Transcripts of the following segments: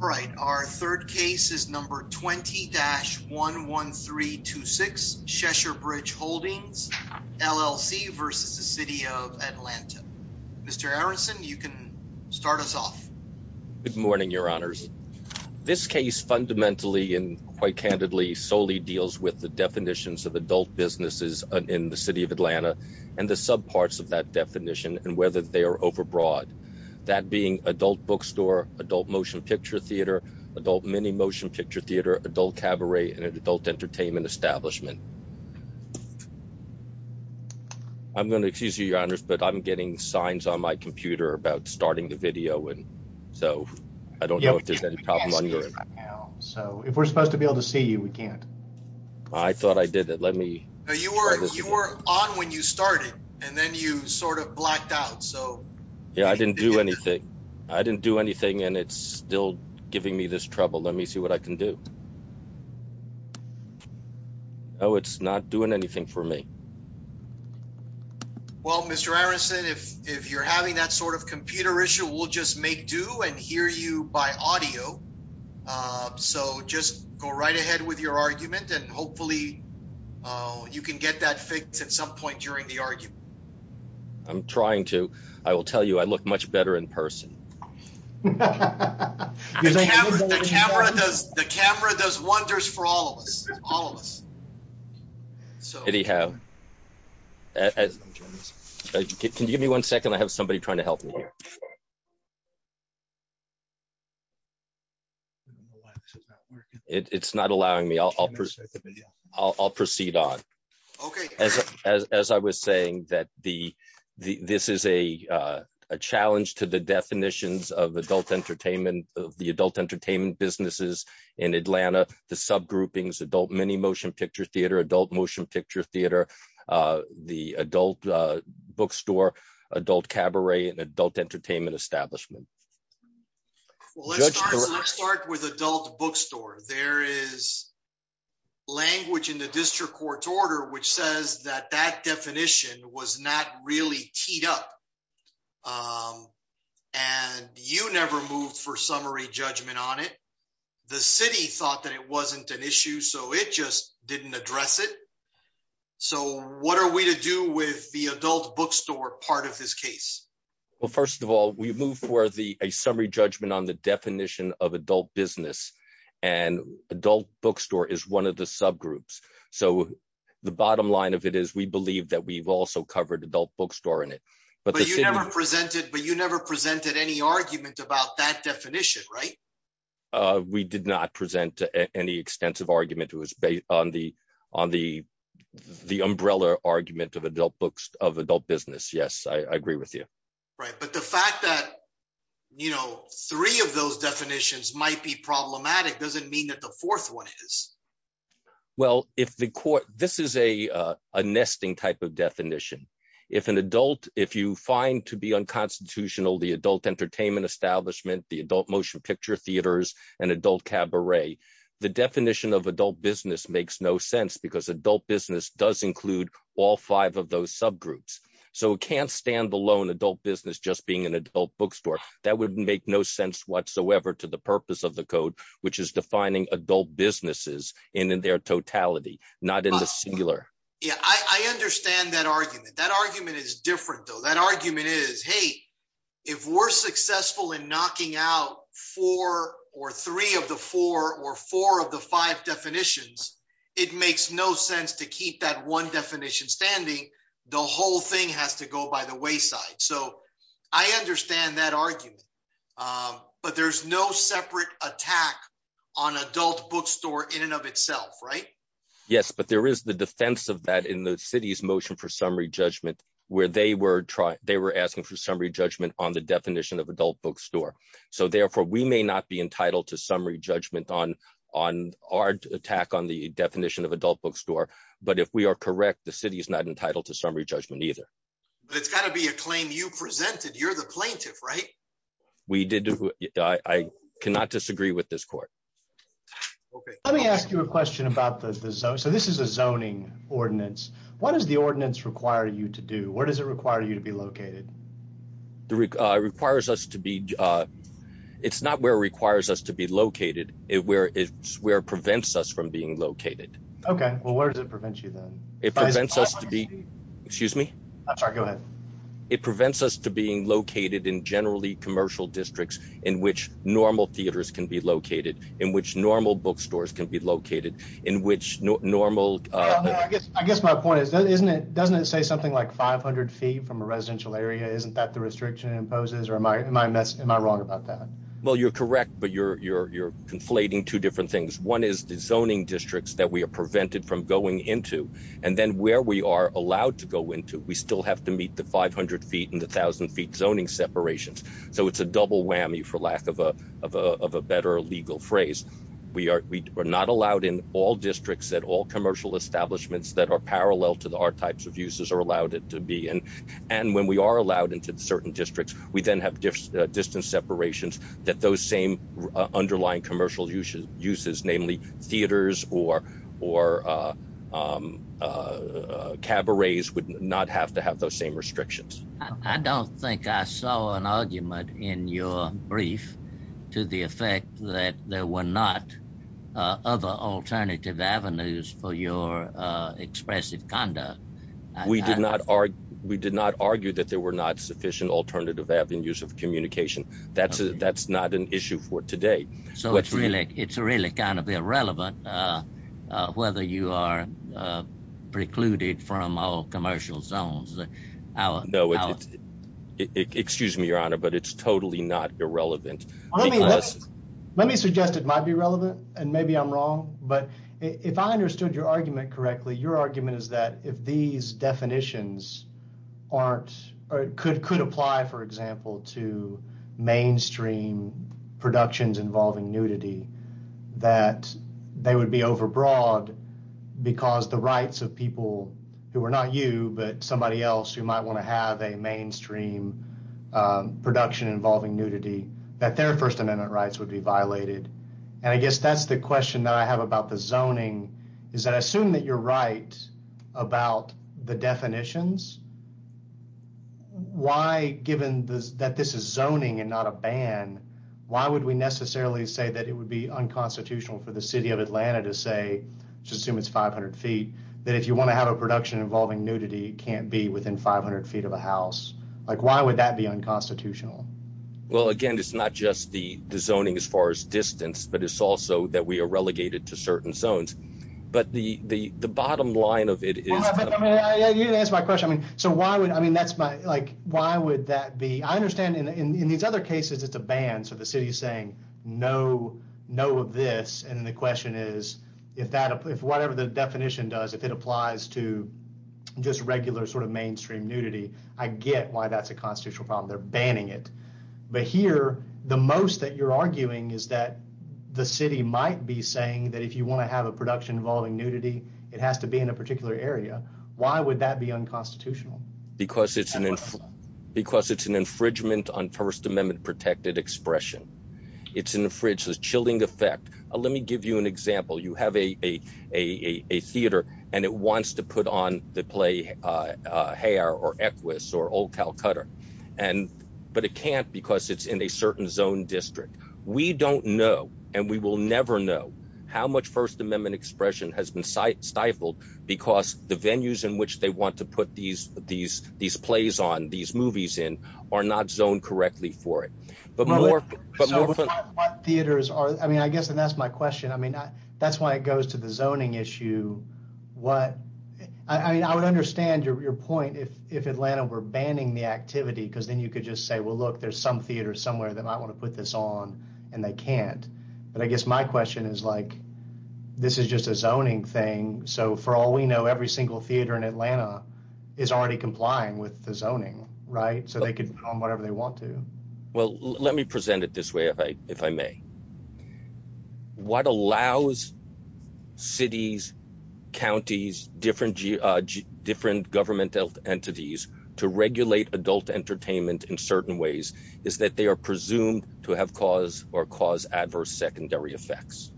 All right, our third case is number 20-11326, Cheshire Bridge Holdings, LLC versus the City of Atlanta. Mr. Aronson, you can start us off. Good morning, Your Honors. This case fundamentally and quite candidly solely deals with the definitions of adult businesses in the City of Atlanta and the sub parts of that definition and whether they are overbroad. That being adult bookstore, adult motion picture theater, adult mini motion picture theater, adult cabaret, and an adult entertainment establishment. I'm going to excuse you, Your Honors, but I'm getting signs on my computer about starting the video and so I don't know if there's any problem. So if we're supposed to be able to see you, we can't. I thought I did it. Let me. You were on when you started and then you sort of blacked out. Yeah, I didn't do anything. I didn't do anything and it's still giving me this trouble. Let me see what I can do. Oh, it's not doing anything for me. Well, Mr. Aronson, if you're having that sort of computer issue, we'll just make do and hear you by audio. So just go right ahead with your argument and hopefully you can get that fixed at some point during the argument. I'm trying to. I will tell you, I look much better in person. The camera does wonders for all of us. Can you give me one second? I have somebody trying to help me here. I don't know why this is not working. It's not allowing me. I'll proceed on. Okay. As I was saying, that this is a challenge to the definitions of adult entertainment, of the adult entertainment businesses in Atlanta, the subgroupings, adult mini motion picture theater, adult motion picture theater, the adult Let's start with adult bookstore. There is language in the district court's order which says that that definition was not really teed up and you never moved for summary judgment on it. The city thought that it wasn't an issue so it just didn't address it. So what are we to do with the adult bookstore part of this summary judgment on the definition of adult business and adult bookstore is one of the subgroups. So the bottom line of it is we believe that we've also covered adult bookstore in it. But you never presented any argument about that definition, right? We did not present any extensive argument who was based on the umbrella argument of adult books of adult three of those definitions might be problematic doesn't mean that the fourth one is. Well if the court, this is a nesting type of definition. If an adult, if you find to be unconstitutional the adult entertainment establishment, the adult motion picture theaters, and adult cabaret, the definition of adult business makes no sense because adult business does include all five of those subgroups. So it can't stand alone adult business just being an adult bookstore. That would make no sense whatsoever to the purpose of the code which is defining adult businesses and in their totality not in the singular. Yeah I understand that argument. That argument is different though. That argument is hey if we're successful in knocking out four or three of the four or four of the five definitions it makes no sense to keep that one definition standing. The whole thing has to go by the wayside. So I understand that argument but there's no separate attack on adult bookstore in and of itself right? Yes but there is the defense of that in the city's motion for summary judgment where they were trying they were asking for summary judgment on the definition of adult bookstore. So therefore we may not be entitled to summary judgment on on our attack on the definition of adult bookstore but if we are correct the city is not entitled to but it's got to be a claim you presented you're the plaintiff right? We did I cannot disagree with this court. Let me ask you a question about the zone so this is a zoning ordinance. What does the ordinance require you to do? Where does it require you to be located? It requires us to be it's not where it requires us to be located it where it's where it prevents us from being located. Okay well where does it prevent you then? It prevents us to be excuse me I'm sorry go ahead. It prevents us to being located in generally commercial districts in which normal theaters can be located in which normal bookstores can be located in which normal I guess my point is isn't it doesn't it say something like 500 feet from a residential area isn't that the restriction imposes or am I am I wrong about that? Well you're correct but you're you're you're conflating two different things. One is the zoning districts that we are prevented from going into and then where we are allowed to go into we still have to meet the 500 feet and the thousand feet zoning separations so it's a double whammy for lack of a of a better legal phrase. We are we are not allowed in all districts at all commercial establishments that are parallel to the our types of uses are allowed it to be and and when we are allowed into certain districts we then have distance separations that those same underlying commercial uses uses namely theaters or or cabarets would not have to have those same restrictions. I don't think I saw an argument in your brief to the effect that there were not other alternative avenues for your expressive conduct. We did not argue that there were not sufficient alternative avenues of communication. That's that's not an issue for today. So it's really it's really kind of irrelevant whether you are precluded from all commercial zones. No it's excuse me your honor but it's totally not irrelevant. Let me suggest it might be relevant and maybe I'm wrong but if I understood your argument correctly your argument is that if these definitions aren't or it could could apply for example to mainstream productions involving nudity that they would be overbroad because the rights of people who are not you but somebody else who might want to have a mainstream production involving nudity that their First Amendment rights would be violated and I guess that's the question that I have about the zoning is that I assume that you're right about the definitions why given this that this is zoning and not a ban why would we necessarily say that it would be unconstitutional for the city of Atlanta to say just assume it's 500 feet that if you want to have a production involving nudity can't be within 500 feet of a house like why would that be unconstitutional well again it's not just the zoning as far as distance but it's also that we are relegated to the bottom line of it is my question I mean so why would I mean that's my like why would that be I understand in these other cases it's a ban so the city is saying no no of this and the question is if that if whatever the definition does if it applies to just regular sort of mainstream nudity I get why that's a constitutional problem they're banning it but here the most that you're arguing is that the city might be saying that if you want to have a production involving nudity it has to be in a particular area why would that be unconstitutional because it's an infant because it's an infringement on First Amendment protected expression it's in the fridge the chilling effect let me give you an example you have a a theater and it wants to put on the play hair or Equus or old Calcutta and but it can't because it's in a certain zone district we don't know and we will never know how much First Amendment expression has been stifled because the venues in which they want to put these these these plays on these movies in are not zoned correctly for it but more theaters are I mean I guess and that's my question I mean that's why it goes to the zoning issue what I mean I would understand your point if if Atlanta were banning the activity because then you could just say well look there's some theater somewhere that I want to put this on and they can't but I guess my question is like this is just a zoning thing so for all we know every single theater in Atlanta is already complying with the zoning right so they could put on whatever they want to well let me present it this way if I if I may what allows cities counties different judge different government health entities to presumed to have cause or cause adverse secondary effects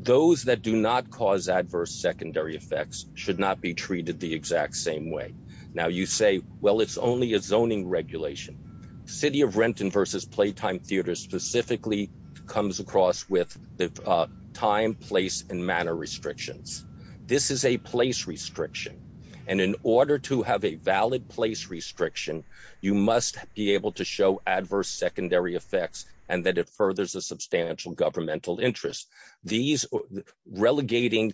those that do not cause adverse secondary effects should not be treated the exact same way now you say well it's only a zoning regulation City of Renton versus Playtime Theater specifically comes across with the time place and manner restrictions this is a place restriction and in order to have a valid place restriction you must be able to show adverse secondary effects and that it furthers a substantial governmental interest these relegating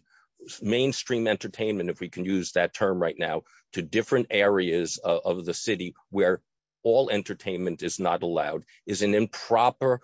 mainstream entertainment if we can use that term right now to different areas of the city where all entertainment is not allowed is an improper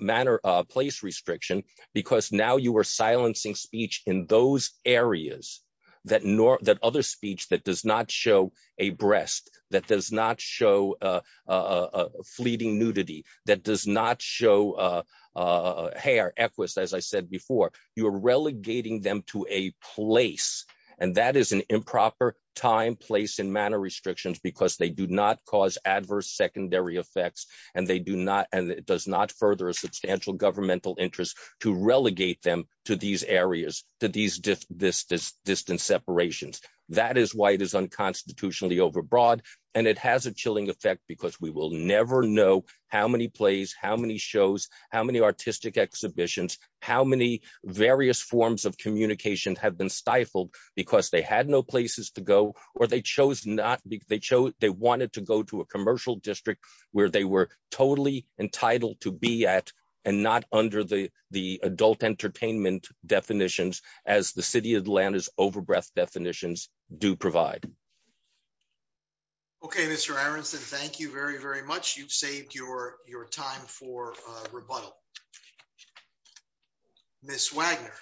manner place restriction because now you are silencing speech in those areas that nor that other speech that does not show a breast that does not show a fleeting nudity that does not show a hair equest as I said before you are relegating them to a place and that is an improper time place and manner restrictions because they do not cause adverse secondary effects and they do not and it does not further a substantial governmental interest to relegate them to these areas to these distance separations that is why it is unconstitutionally overbroad and it has a chilling effect because we will never know how many plays how many shows how many artistic exhibitions how many various forms of communication have been stifled because they had no places to go or they chose not because they chose they wanted to go to a commercial district where they were totally entitled to be at and not under the the adult entertainment definitions as the city of Atlanta's overbreath definitions do provide okay mr. Aronson thank you very very much you've saved your your time for rebuttal miss Wagner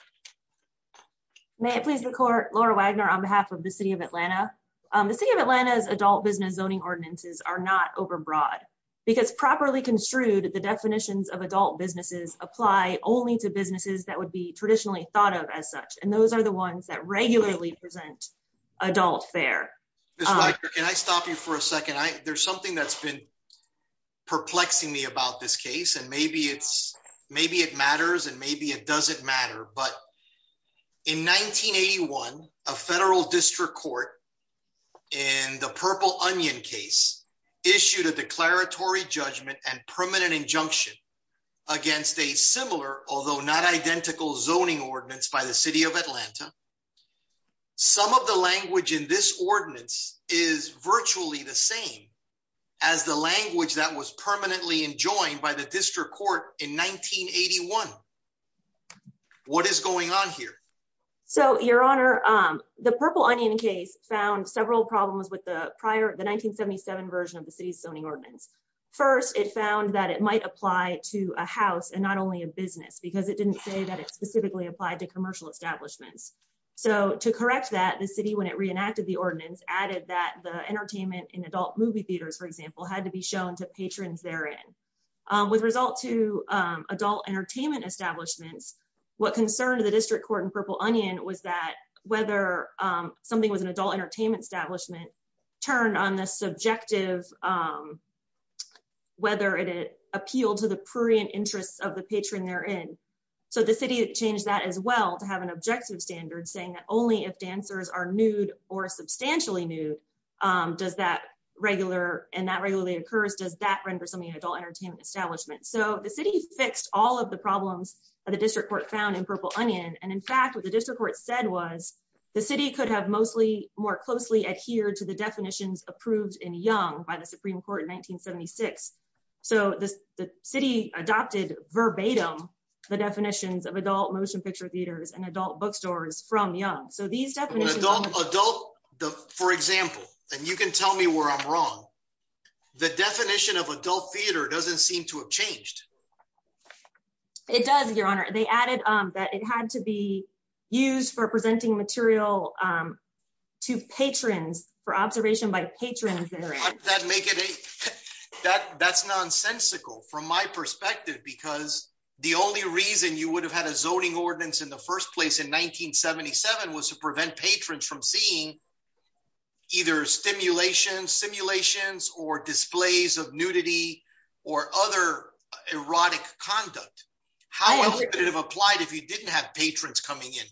may it please the court Laura Wagner on behalf of the city of Atlanta the city of Atlanta's adult business zoning ordinances are not overbroad because properly construed the definitions of adult businesses apply only to the ones that regularly present adult fair and I stop you for a second I there's something that's been perplexing me about this case and maybe it's maybe it matters and maybe it doesn't matter but in 1981 a federal district court in the purple onion case issued a declaratory judgment and permanent injunction against a similar although not identical zoning ordinance by the some of the language in this ordinance is virtually the same as the language that was permanently enjoined by the district court in 1981 what is going on here so your honor the purple onion case found several problems with the prior the 1977 version of the city's zoning ordinance first it found that it might apply to a house and not only a business because it didn't say that it applied to commercial establishments so to correct that the city when it reenacted the ordinance added that the entertainment in adult movie theaters for example had to be shown to patrons therein with result to adult entertainment establishments what concerned the district court in purple onion was that whether something was an adult entertainment establishment turn on the subjective whether it appealed to the prurient interests of the patron therein so the city changed that as well to have an objective standard saying that only if dancers are nude or substantially nude does that regular and that regularly occurs does that render something adult entertainment establishment so the city fixed all of the problems of the district court found in purple onion and in fact what the district court said was the city could have mostly more closely adhered to the definitions approved in young by the the definitions of adult motion picture theaters and adult bookstores from young so these don't adult the for example and you can tell me where I'm wrong the definition of adult theater doesn't seem to have changed it does your honor they added that it had to be used for presenting material to patrons for observation by patrons that make it a that that's nonsensical from my only reason you would have had a zoning ordinance in the first place in 1977 was to prevent patrons from seeing either stimulation simulations or displays of nudity or other erotic conduct how did it have applied if you didn't have patrons coming in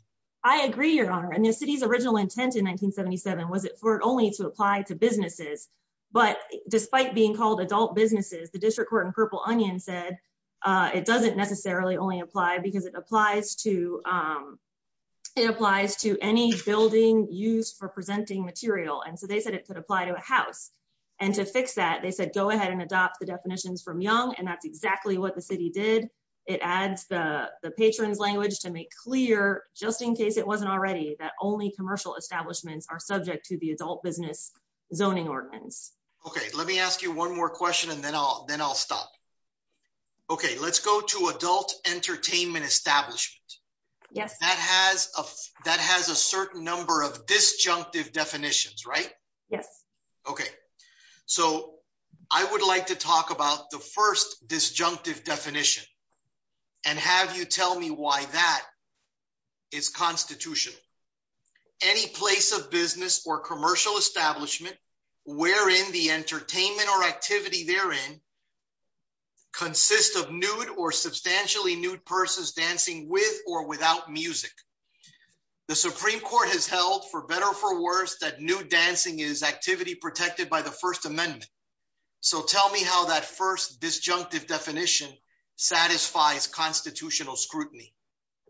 I agree your honor and the city's original intent in 1977 was it for it only to apply to businesses but despite being called adult businesses the district court in purple onion said it doesn't necessarily only apply because it applies to it applies to any building used for presenting material and so they said it could apply to a house and to fix that they said go ahead and adopt the definitions from young and that's exactly what the city did it adds the the patrons language to make clear just in case it wasn't already that only commercial establishments are subject to the adult business zoning ordinance okay let me ask you one more question and then all then I'll stop okay let's go to adult entertainment establishment yes that has a that has a certain number of disjunctive definitions right yes okay so I would like to talk about the first disjunctive definition and have you tell me why that is constitutional any place of business or commercial establishment wherein the entertainment or activity therein consists of nude or substantially nude persons dancing with or without music the Supreme Court has held for better for worse that nude dancing is activity protected by the First Amendment so tell me how that first disjunctive definition satisfies constitutional scrutiny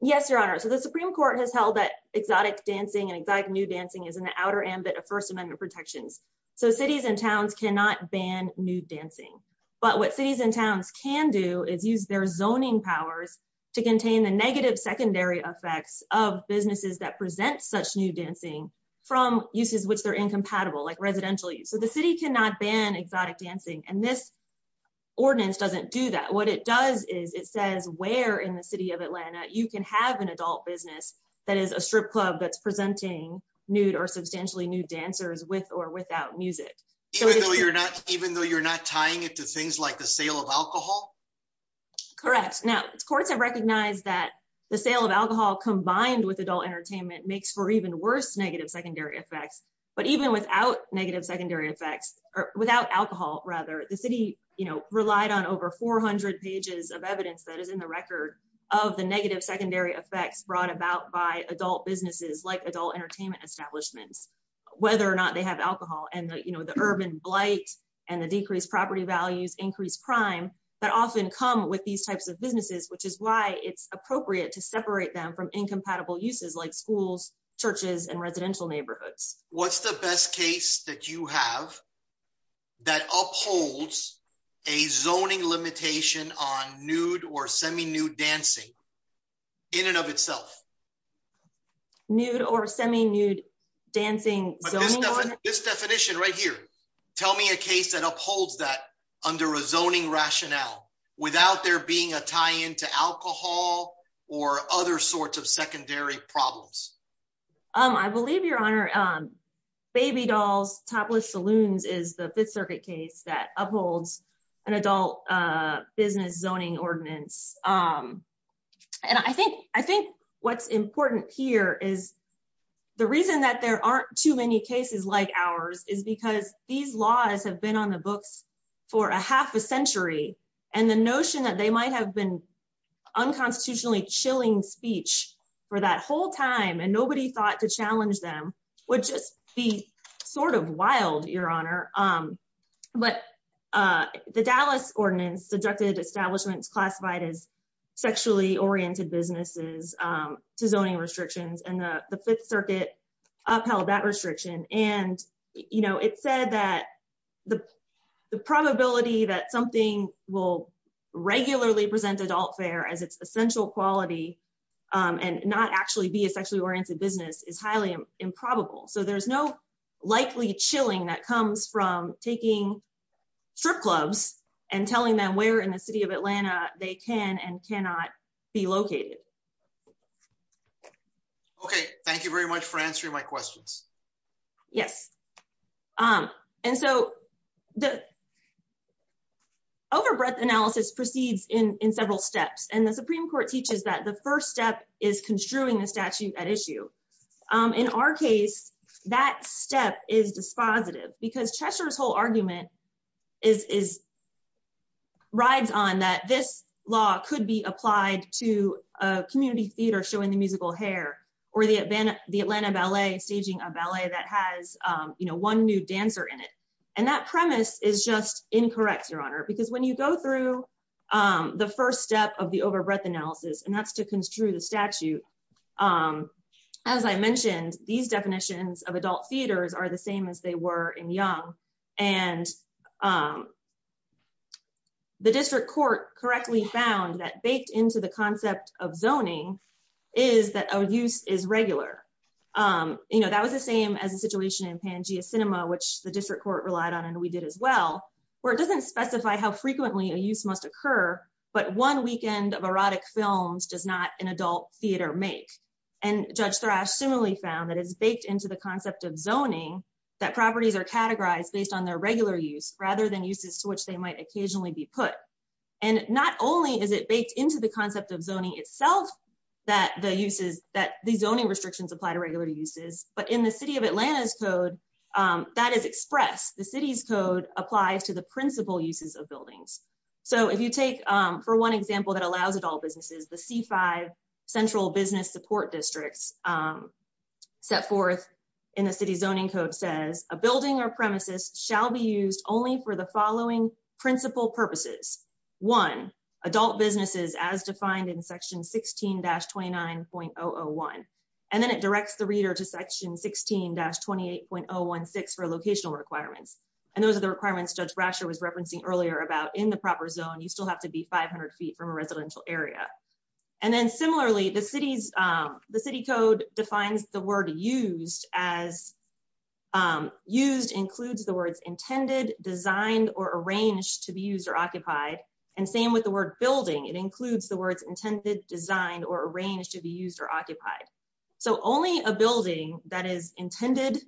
yes your honor so the Supreme Court has held that exotic dancing and exotic nude dancing is in the outer ambit of First Amendment protections so cities and towns cannot ban nude dancing but what cities and towns can do is use their zoning powers to contain the negative secondary effects of businesses that present such nude dancing from uses which they're incompatible like residential use so the city cannot ban exotic dancing and this does is it says where in the city of Atlanta you can have an adult business that is a strip club that's presenting nude or substantially nude dancers with or without music even though you're not even though you're not tying it to things like the sale of alcohol correct now courts have recognized that the sale of alcohol combined with adult entertainment makes for even worse negative secondary effects but even without negative secondary effects or alcohol rather the city you know relied on over 400 pages of evidence that is in the record of the negative secondary effects brought about by adult businesses like adult entertainment establishments whether or not they have alcohol and you know the urban blight and the decreased property values increased crime that often come with these types of businesses which is why it's appropriate to separate them from incompatible uses like schools churches and residential neighborhoods what's the best case that you have that upholds a zoning limitation on nude or semi nude dancing in and of itself nude or semi nude dancing this definition right here tell me a case that upholds that under a zoning rationale without there being a tie-in to alcohol or other sorts of I believe your honor baby dolls topless saloons is the Fifth Circuit case that upholds an adult business zoning ordinance and I think I think what's important here is the reason that there aren't too many cases like ours is because these laws have been on the books for a half a century and the notion that they might have been unconstitutionally chilling speech for that whole time and nobody thought to challenge them would just be sort of wild your honor um but the Dallas ordinance subjected establishments classified as sexually oriented businesses to zoning restrictions and the the Fifth Circuit upheld that restriction and you know it said that the the probability that something will regularly present adult fare as its actually be a sexually oriented business is highly improbable so there's no likely chilling that comes from taking strip clubs and telling them where in the city of Atlanta they can and cannot be located okay thank you very much for answering my questions yes um and so the overbreadth analysis proceeds in in several steps and the Supreme Court teaches that the first step is construing the statute at issue in our case that step is dispositive because Cheshire's whole argument is is rides on that this law could be applied to a community theater showing the musical hair or the event the Atlanta Ballet staging a ballet that has you know one new dancer in it and that premise is just incorrect your honor because when you go through the first step of the overbreadth analysis and that's to construe the statute as I mentioned these definitions of adult theaters are the same as they were in young and the district court correctly found that baked into the concept of zoning is that our use is regular you know that was the same as a situation in Pangea Cinema which the district court relied on and we did as well where it doesn't specify how frequently a use must occur but one weekend of erotic films does not an adult theater make and judge thrash similarly found that is baked into the concept of zoning that properties are categorized based on their regular use rather than uses to which they might occasionally be put and not only is it baked into the concept of zoning itself that the uses that the zoning restrictions apply to regular uses but in the city of Atlanta's code that is expressed the city's code applies to the principal uses of buildings so if you take for one example that allows it all businesses the c5 central business support districts set forth in the city's zoning code says a building or premises shall be used only for the following principal purposes one adult businesses as defined in section 16-29 point 001 and then it directs the for locational requirements and those are the requirements judge Brasher was referencing earlier about in the proper zone you still have to be 500 feet from a residential area and then similarly the city's the city code defines the word used as used includes the words intended designed or arranged to be used or occupied and same with the word building it includes the words intended designed or arranged to be used or occupied so only a building that is intended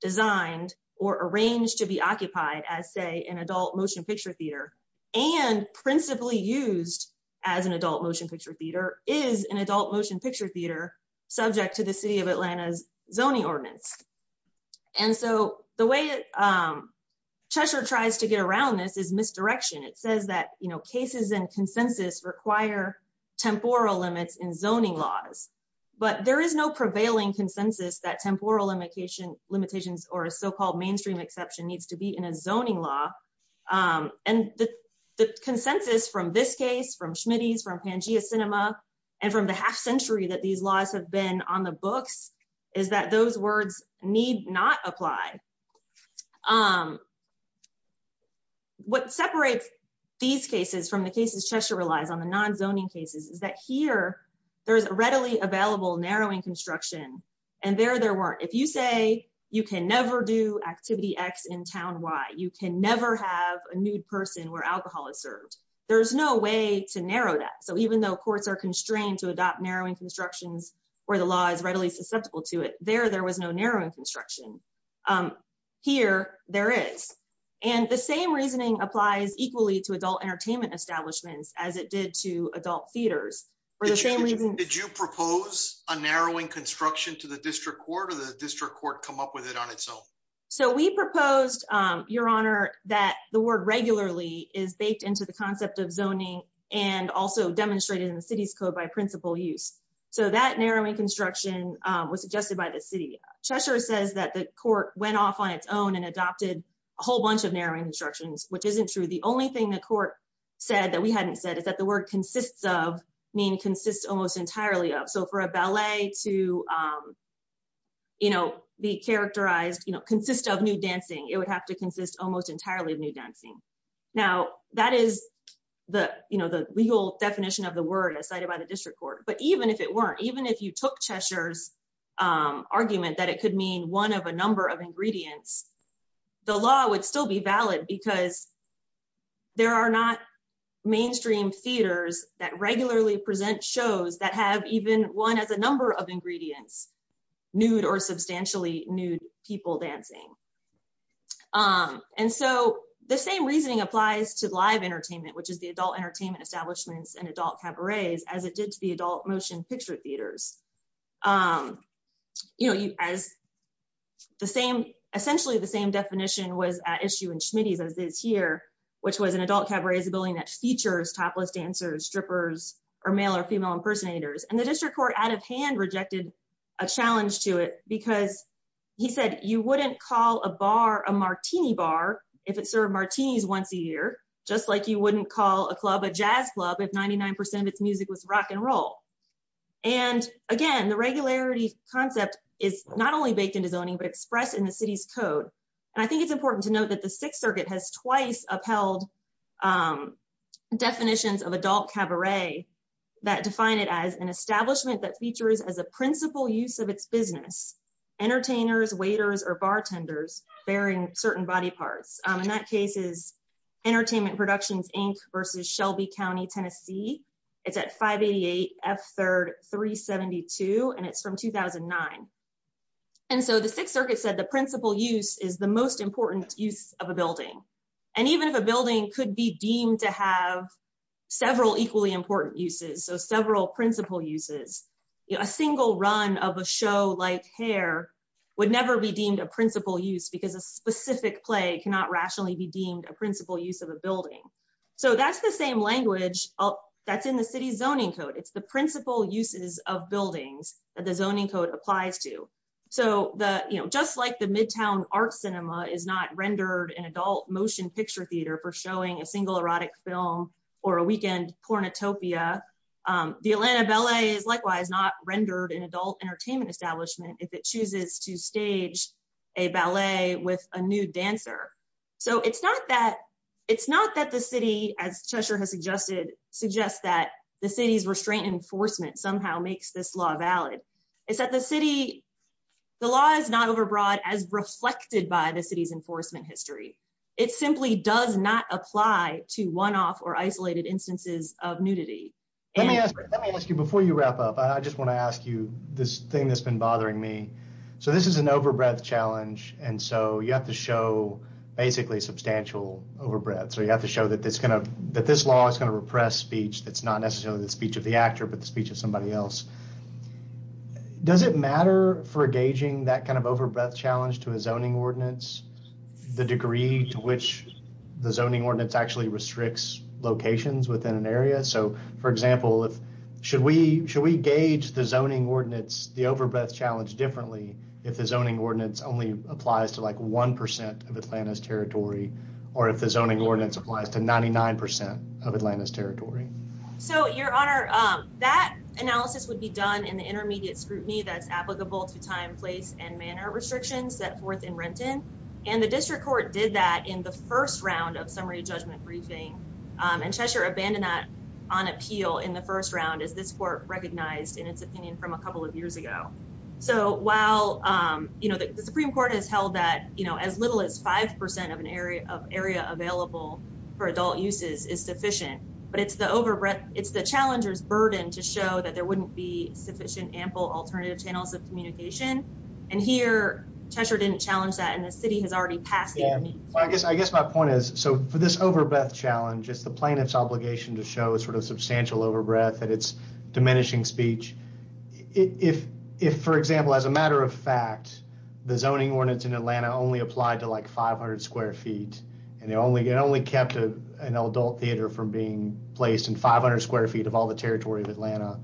designed or arranged to be occupied as say an adult motion picture theater and principally used as an adult motion picture theater is an adult motion picture theater subject to the city of Atlanta's zoning ordinance and so the way Cheshire tries to get around this is misdirection it says that you know cases and consensus require temporal limits in zoning laws but there is no prevailing consensus that temporal limitation limitations or a so-called mainstream exception needs to be in a zoning law and the consensus from this case from Schmitty's from Pangea Cinema and from the half-century that these laws have been on the books is that those words need not apply um what separates these cases from the cases Cheshire relies on the non zoning cases is that here there is a readily available narrowing construction and there there weren't if you say you can never do activity X in town Y you can never have a nude person where alcohol is served there's no way to narrow that so even though courts are constrained to adopt narrowing constructions where the law is readily susceptible to it there there was no narrowing construction here there is and the same reasoning applies equally to adult entertainment establishments as it did to adult theaters for the same reason did you propose a narrowing construction to the district court or the district court come up with it on its own so we proposed your honor that the word regularly is baked into the concept of zoning and also demonstrated in the city's code by principal use so that narrowing construction was suggested by the city Cheshire says that the court went off on its own and adopted a whole bunch of narrowing instructions which isn't true the only thing the court said that we hadn't said is that the word consists of mean consists almost entirely of so for a ballet to you know be characterized you know consist of new dancing it would have to consist almost entirely of new dancing now that is the you know the legal definition of the word as cited by the district court but even if it weren't even if you took Cheshire's argument that it could mean one of a number of ingredients the law would still be valid because there are not mainstream theaters that regularly present shows that have even one as a number of ingredients nude or substantially nude people dancing and so the same reasoning applies to live entertainment which is the adult entertainment establishments and adult cabarets as it did to the adult motion picture theaters you know you as the same essentially the same definition was issue in Schmitty's as this year which was an adult cabaret is a building that features topless dancers strippers or male or female impersonators and the district court out of hand rejected a challenge to it because he said you wouldn't call a bar a martini bar if it served martinis once a year just like you wouldn't call a club a jazz club if 99% of its music was rock and roll and again the regularity concept is not only baked into zoning but expressed in the city's code and I think it's important to note that the Sixth Circuit has twice upheld definitions of adult cabaret that define it as an establishment that features as a principal use of its business entertainers waiters or bartenders bearing certain body parts in that case is entertainment productions Inc versus Shelby County Tennessee it's at 588 F 3rd 372 and it's from 2009 and so the Sixth Circuit said the principal use is the most important use of a building and even if a building could be deemed to have several equally important uses so several principal uses a single run of a show like hair would never be deemed a principal use because a specific play cannot rationally be deemed a principal use of a building so that's the same language oh that's in the city's zoning code it's the principal uses of buildings that the you know just like the Midtown Art Cinema is not rendered an adult motion picture theater for showing a single erotic film or a weekend pornotopia the Atlanta Ballet is likewise not rendered an adult entertainment establishment if it chooses to stage a ballet with a nude dancer so it's not that it's not that the city as Cheshire has suggested suggests that the city's restraint enforcement somehow makes this law valid is that the city the law is not overbroad as reflected by the city's enforcement history it simply does not apply to one-off or isolated instances of nudity let me ask you before you wrap up I just want to ask you this thing that's been bothering me so this is an overbreath challenge and so you have to show basically substantial overbreath so you have to show that this kind of that this law is going to repress speech that's not necessarily the speech of the actor but the speech of somebody else does it matter for a gauging that kind of overbreath challenge to a zoning ordinance the degree to which the zoning ordinance actually restricts locations within an area so for example if should we should we gauge the zoning ordinance the overbreath challenge differently if the zoning ordinance only applies to like 1% of Atlanta's territory or if the zoning ordinance applies to 99% of so your honor that analysis would be done in the intermediate scrutiny that's applicable to time place and manner restrictions set forth in Renton and the district court did that in the first round of summary judgment briefing and Cheshire abandoned that on appeal in the first round is this court recognized in its opinion from a couple of years ago so while you know the Supreme Court has held that you know as little as 5% of an area of area available for adult uses is sufficient but it's the overbreath it's the challengers burden to show that there wouldn't be sufficient ample alternative channels of communication and here Cheshire didn't challenge that and the city has already passed I guess I guess my point is so for this overbreath challenge it's the plaintiffs obligation to show a sort of substantial overbreath and it's diminishing speech if if for example as a matter of fact the zoning ordinance in Atlanta only applied to like 500 square feet and they only get only kept a an adult theater from being placed in 500 square feet of all the territory of Atlanta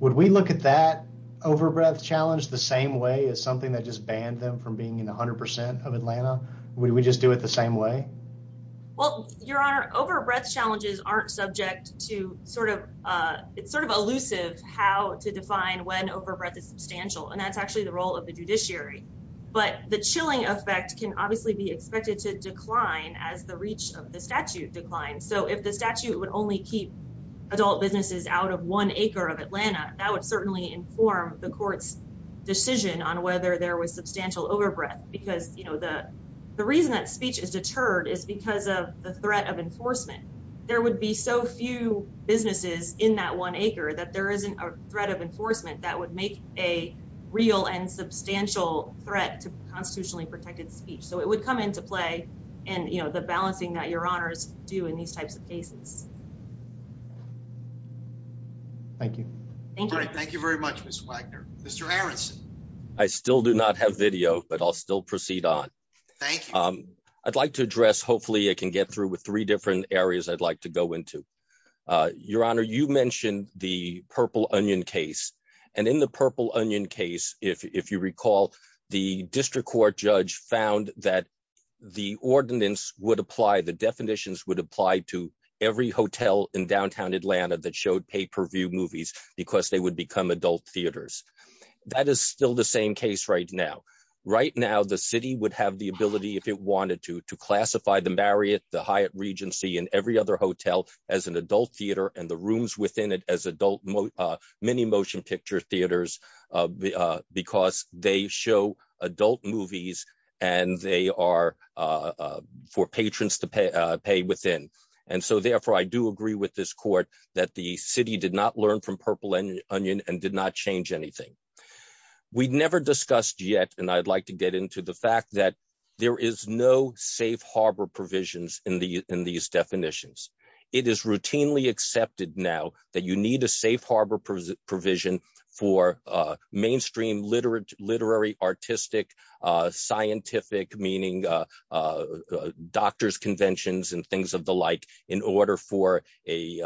would we look at that overbreath challenge the same way as something that just banned them from being in a hundred percent of Atlanta would we just do it the same way well your honor overbreath challenges aren't subject to sort of it's sort of elusive how to define when overbreath is substantial and that's actually the role of the judiciary but the chilling effect can obviously be expected to decline as the reach of the statute declines so if the statute would only keep adult businesses out of one acre of Atlanta that would certainly inform the court's decision on whether there was substantial overbreath because you know the the reason that speech is deterred is because of the threat of enforcement there would be so few businesses in that one acre that there isn't a threat of enforcement that would make a real and substantial threat to constitutionally I still do not have video but I'll still proceed on I'd like to address hopefully I can get through with three different areas I'd like to go into your honor you mentioned the purple onion case and in the purple onion case if you recall the district court judge found that the ordinance would apply the definitions would apply to every hotel in downtown Atlanta that showed pay-per-view movies because they would become adult theaters that is still the same case right now right now the city would have the ability if it wanted to to classify the Marriott the Hyatt Regency in every other hotel as an adult because they show adult movies and they are for patrons to pay pay within and so therefore I do agree with this court that the city did not learn from purple onion and did not change anything we'd never discussed yet and I'd like to get into the fact that there is no safe harbor provisions in the in these definitions it is routinely accepted now that you need a safe harbor provision for mainstream literate literary artistic scientific meaning doctors conventions and things of the like in order for a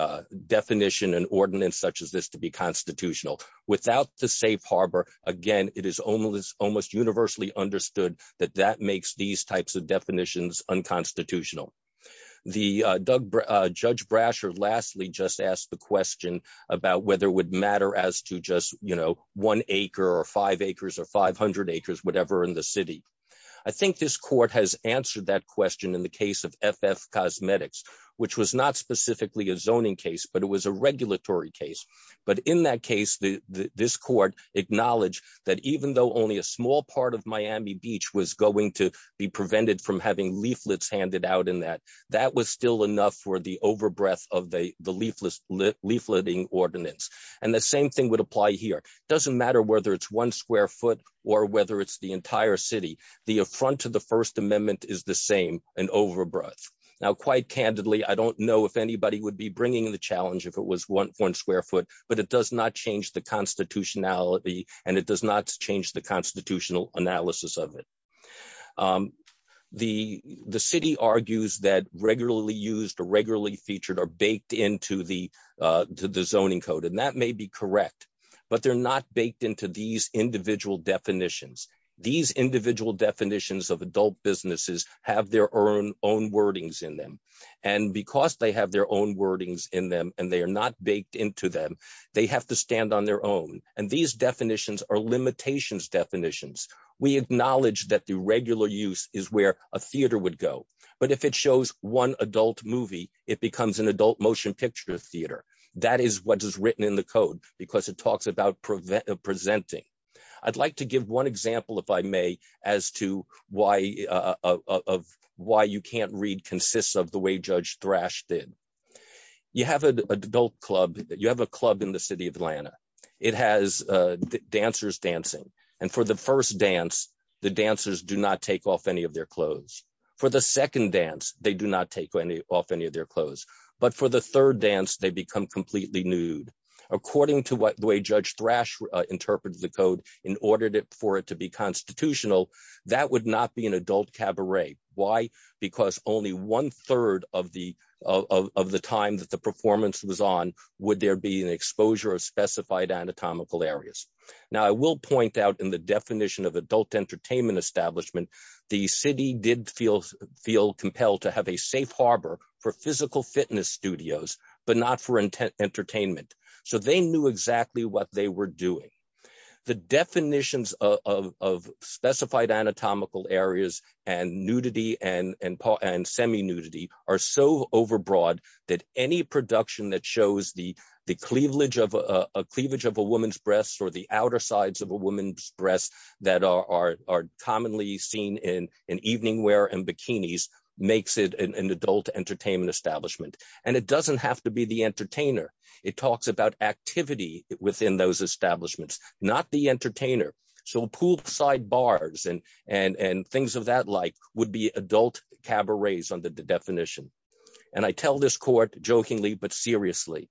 definition and ordinance such as this to be constitutional without the safe harbor again it is almost almost universally understood that that makes these types of definitions unconstitutional the judge Brasher lastly just asked the question in the case of FF Cosmetics which was not specifically a zoning case but it was a regulatory case but in that case the this court acknowledged that even though only a small part of Miami Beach was going to be prevented from having leaflets handed out in that that was still enough for the overbreath of a the leafless leafletting ordinance and the same thing would apply here doesn't matter whether it's one square foot or whether it's the entire city the affront to the First Amendment is the same and over breath now quite candidly I don't know if anybody would be bringing the challenge if it was one point square foot but it does not change the constitutionality and it does not change the constitutional analysis of it the the city argues that regularly used regularly featured are baked into the zoning code and that may be correct but they're not baked into these individual definitions these individual definitions of adult businesses have their own own wordings in them and because they have their own wordings in them and they are not baked into them they have to stand on their own and these definitions are limitations definitions we acknowledge that the regular use is where a theater would go but if it shows one adult movie it becomes an adult motion picture theater that is what is written in the code because it talks about preventive presenting I'd like to give one example if I may as to why of why you can't read consists of the way judge thrash did you have an adult club that you have a club in the city of Atlanta it has dancers dancing and for the first dance the second dance they do not take any off any of their clothes but for the third dance they become completely nude according to what the way judge thrash interprets the code in ordered it for it to be constitutional that would not be an adult cabaret why because only one-third of the of the time that the performance was on would there be an exposure of specified anatomical areas now I will point out in the definition of adult entertainment establishment the city did feel compelled to have a safe harbor for physical fitness studios but not for entertainment so they knew exactly what they were doing the definitions of specified anatomical areas and nudity and and semi nudity are so overbroad that any production that shows the the cleavage of a cleavage of a woman's breasts or the outer sides of a woman's breasts that are commonly seen in an evening wear and bikinis makes it an adult entertainment establishment and it doesn't have to be the entertainer it talks about activity within those establishments not the entertainer so poolside bars and and and things of that like would be adult cabarets under the definition and I tell this court jokingly but seriously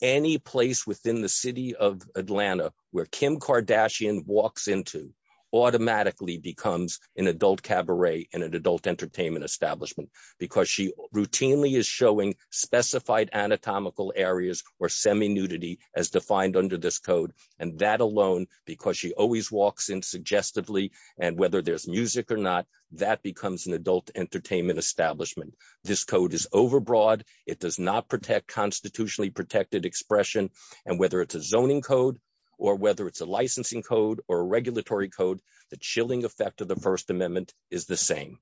any place within the city of Atlanta where Kim Kardashian walks into automatically becomes an adult cabaret and an adult entertainment establishment because she routinely is showing specified anatomical areas or semi nudity as defined under this code and that alone because she always walks in suggestively and whether there's music or not that becomes an adult entertainment establishment this code is overbroad it does not protect constitutionally protected expression and whether it's a zoning code or whether it's a licensing code or a regulatory code the chilling effect of the First Amendment is the same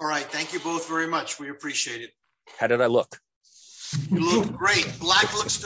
all right thank you both very much we appreciate it how did I look? You look great. Black looks good on you. Thank you.